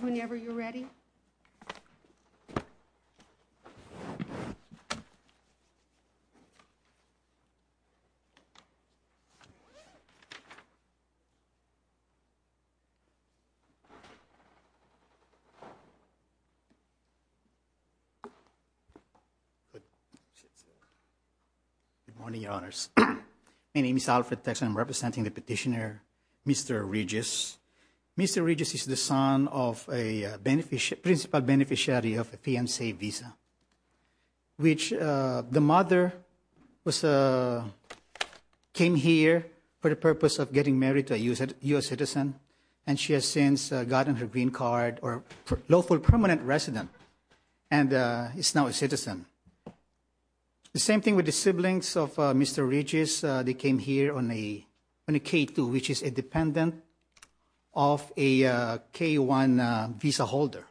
Whenever you're ready. Good morning, Your Honors. My name is Alfred Tex. I'm representing the petitioner, Mr. Regis. Mr. Regis is the son of a principal beneficiary of a PNC visa, which the mother was a came here for the purpose of getting married to a U.S. citizen, and she has since gotten her green card or lawful permanent resident, and is now a citizen. The same thing with the siblings of Mr. Regis. They came here on a K2, which is a dependent of a K1 visa holder.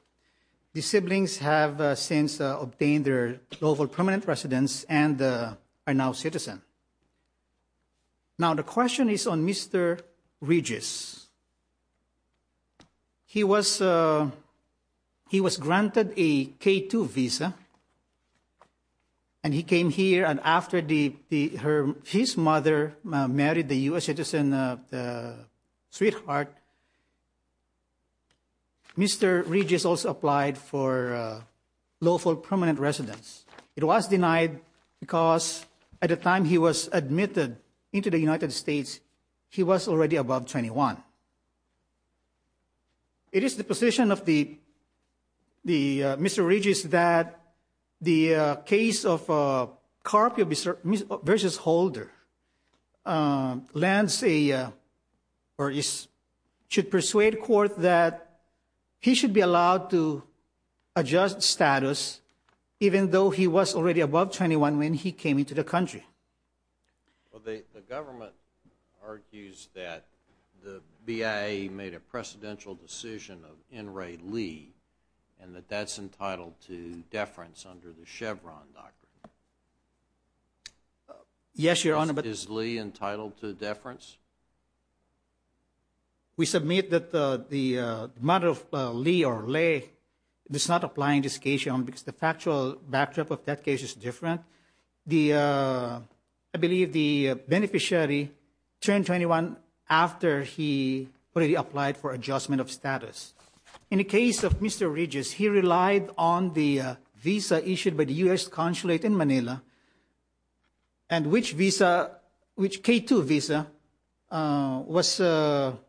The siblings have since obtained their lawful permanent residence and are now citizen. Now the question is on Mr. Regis. He was he was granted a K2 visa, and he came here, and after his mother married the U.S. citizen, the sweetheart, Mr. Regis also applied for lawful permanent residence. It was denied because at the time he was admitted into the United States, he was already above 21. It is the position of the the Mr. Regis that the case of Carpio v. Holder lands a or is should persuade court that he should be allowed to adjust status even though he was already above 21 when he came into the country. Well, the government argues that the BIA made a precedential decision of In-ray Lee, and that that's entitled to deference under the Chevron doctrine. Yes, Your Honor. Is Lee entitled to deference? We submit that the mother of Lee or Lay does not apply in this case because the factual backdrop of that case is different. I believe the beneficiary turned 21 after he already applied for adjustment of status. In the case of Mr. Regis, he relied on the visa issued by the U.S. consulate in Manila and which visa, which K-2 visa was on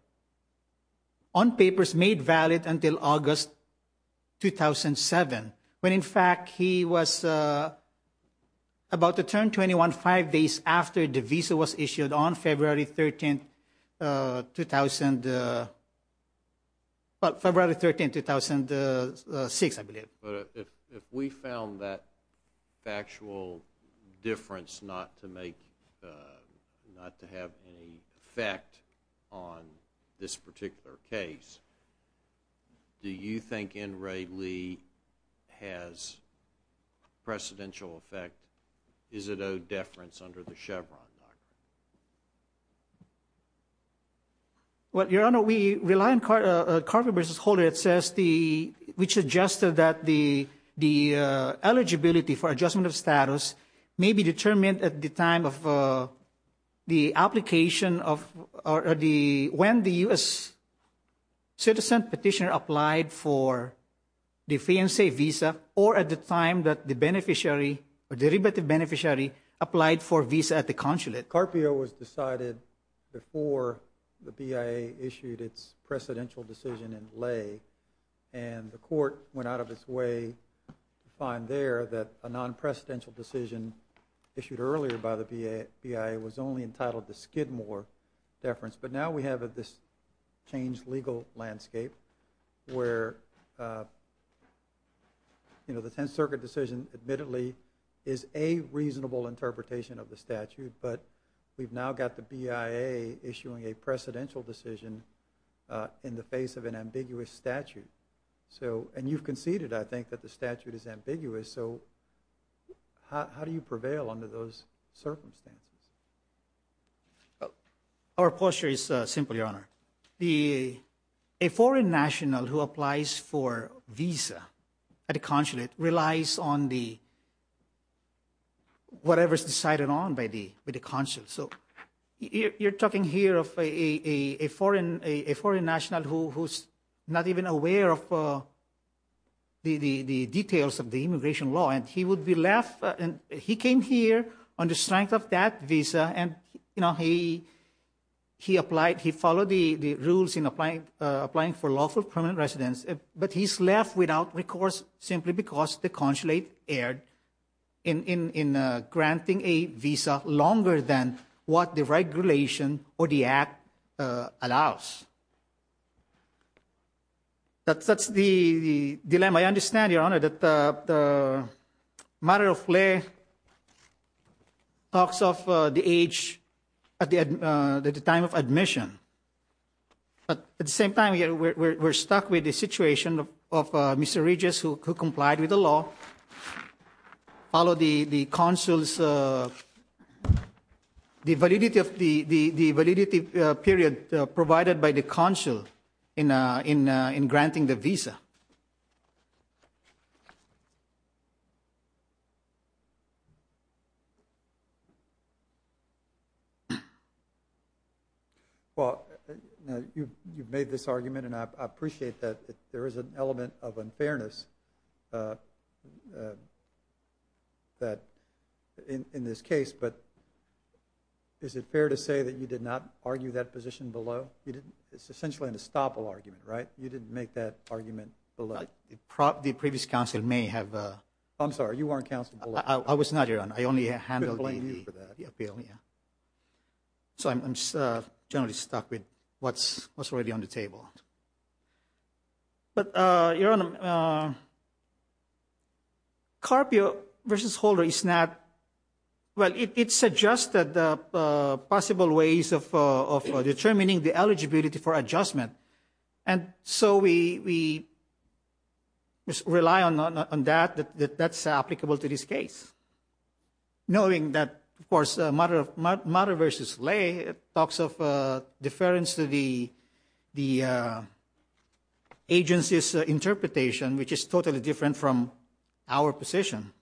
papers made valid until August 2007, when in fact he was about to turn 21 five days after the visa was issued on February 13, 2000, but February 13, 2000, 2006, I believe. If we found that factual difference not to make, not to have any effect on this particular case, do you think In-ray Lee has precedential effect? Is it owed deference under the Chevron doctrine? Well, Your Honor, we rely on Carpe versus Holder. It says the, which suggested that the eligibility for adjustment of status may be determined at the time of the application of, or the, when the U.S. citizen petitioner applied for the free and safe visa or at the time that the beneficiary or derivative beneficiary applied for visa at the consulate. Carpe was decided before the BIA issued its precedential decision in lay and the court went out of its way to find there that a non-presidential decision issued earlier by the BIA was only entitled to skid more deference, but now we have this changed legal landscape where, you know, the Tenth Circuit decision admittedly is a reasonable interpretation of the statute, but we've now got the BIA issuing a precedential decision in the face of an ambiguous statute. So, and you've conceded, I think, that the statute is ambiguous. So how do you prevail under those circumstances? Our posture is simple, Your Honor. The, a application for visa at the consulate relies on the whatever's decided on by the consulate. So you're talking here of a foreign national who's not even aware of the details of the immigration law, and he would be left, and he came here on the strength of that visa and, you know, he applied, he followed the rules in applying for lawful permanent residence, but he's left without recourse simply because the consulate erred in granting a visa longer than what the regulation or the Act allows. That's the dilemma. I understand, Your Honor, that the matter of lay talks of the age at the time of admission, but at the same time, we're stuck with the situation of Mr. Regis, who complied with the law, followed the consul's validity of the validity period provided by the consul in granting the visa. Well, you've made this argument, and I appreciate that there is an element of unfairness that in this case, but is it fair to say that you did not argue that position below? You didn't, it's essentially an estoppel argument, right? You didn't make that argument below. The previous counsel may have. I'm sorry, you weren't counseled. I was not, Your Honor. I only handled the appeal, yeah. So I'm generally stuck with what's already on the table. But, Your Honor, Carpio v. Holder is not, well, it suggests that the possible ways of determining the eligibility for adjustment, and so we just rely on that, that that's applicable to this case, knowing that, of course, Mutter v. Ley talks of deference to the agency's interpretation, which is totally different from our position.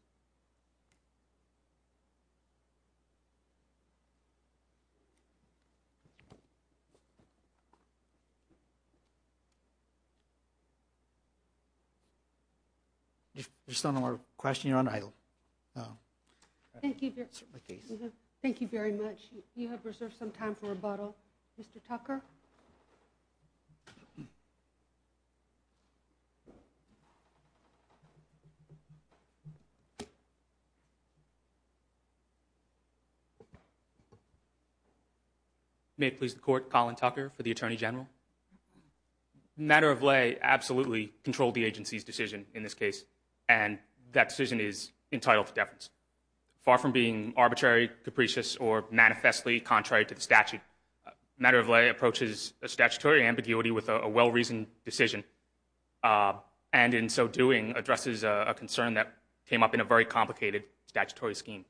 If there's no more questions, you're on idle. Thank you very much. You have reserved some time for rebuttal. Mr. Tucker? May it please the Court, Colin Tucker for the Attorney General. Mutter v. Ley absolutely controlled the agency's decision in this case, and that decision is entitled to deference. Far from being arbitrary, capricious, or manifestly contrary to the statute, Mutter v. Ley approaches a statutory ambiguity with a well-reasoned decision, and in so doing, addresses a concern that came up in a very complicated statutory scheme.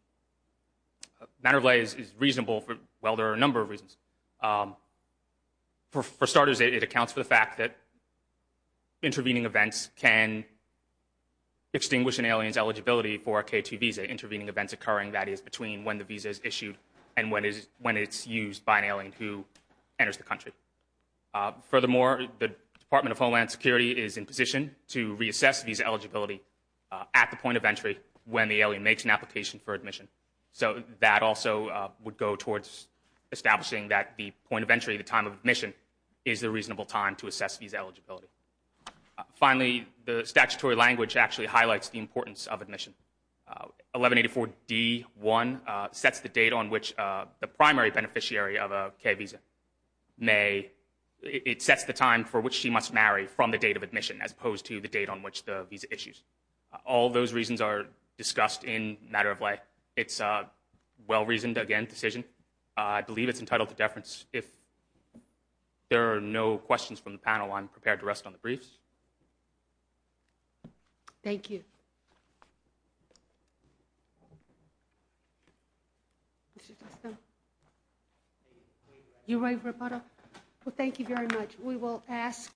Mutter v. Ley is reasonable for, well, there are a number of reasons. For starters, it accounts for the fact that intervening events can extinguish an alien's eligibility for a K2 visa, intervening events occurring, that is, between when the visa is issued and when it's used by an alien who enters the country. Furthermore, the Department of Homeland Security is in position to reassess visa eligibility at the point of entry when the alien makes an application for admission, so that also would go towards establishing that the point of entry, the time of admission, is the reasonable time to assess visa eligibility. Finally, the statutory language actually highlights the importance of admission. 1184d.1 sets the date on which the primary beneficiary of a K visa may, it sets the time for which she must marry from the date of admission, as opposed to the date on which the visa issues. All those reasons are discussed in Mutter v. Ley. It's a well-reasoned, again, decision. I believe it's entitled to deference. If there are no questions from the panel, I'm prepared to rest on the briefs. Thank you. You're right, Roberta. Well, thank you very much. We will ask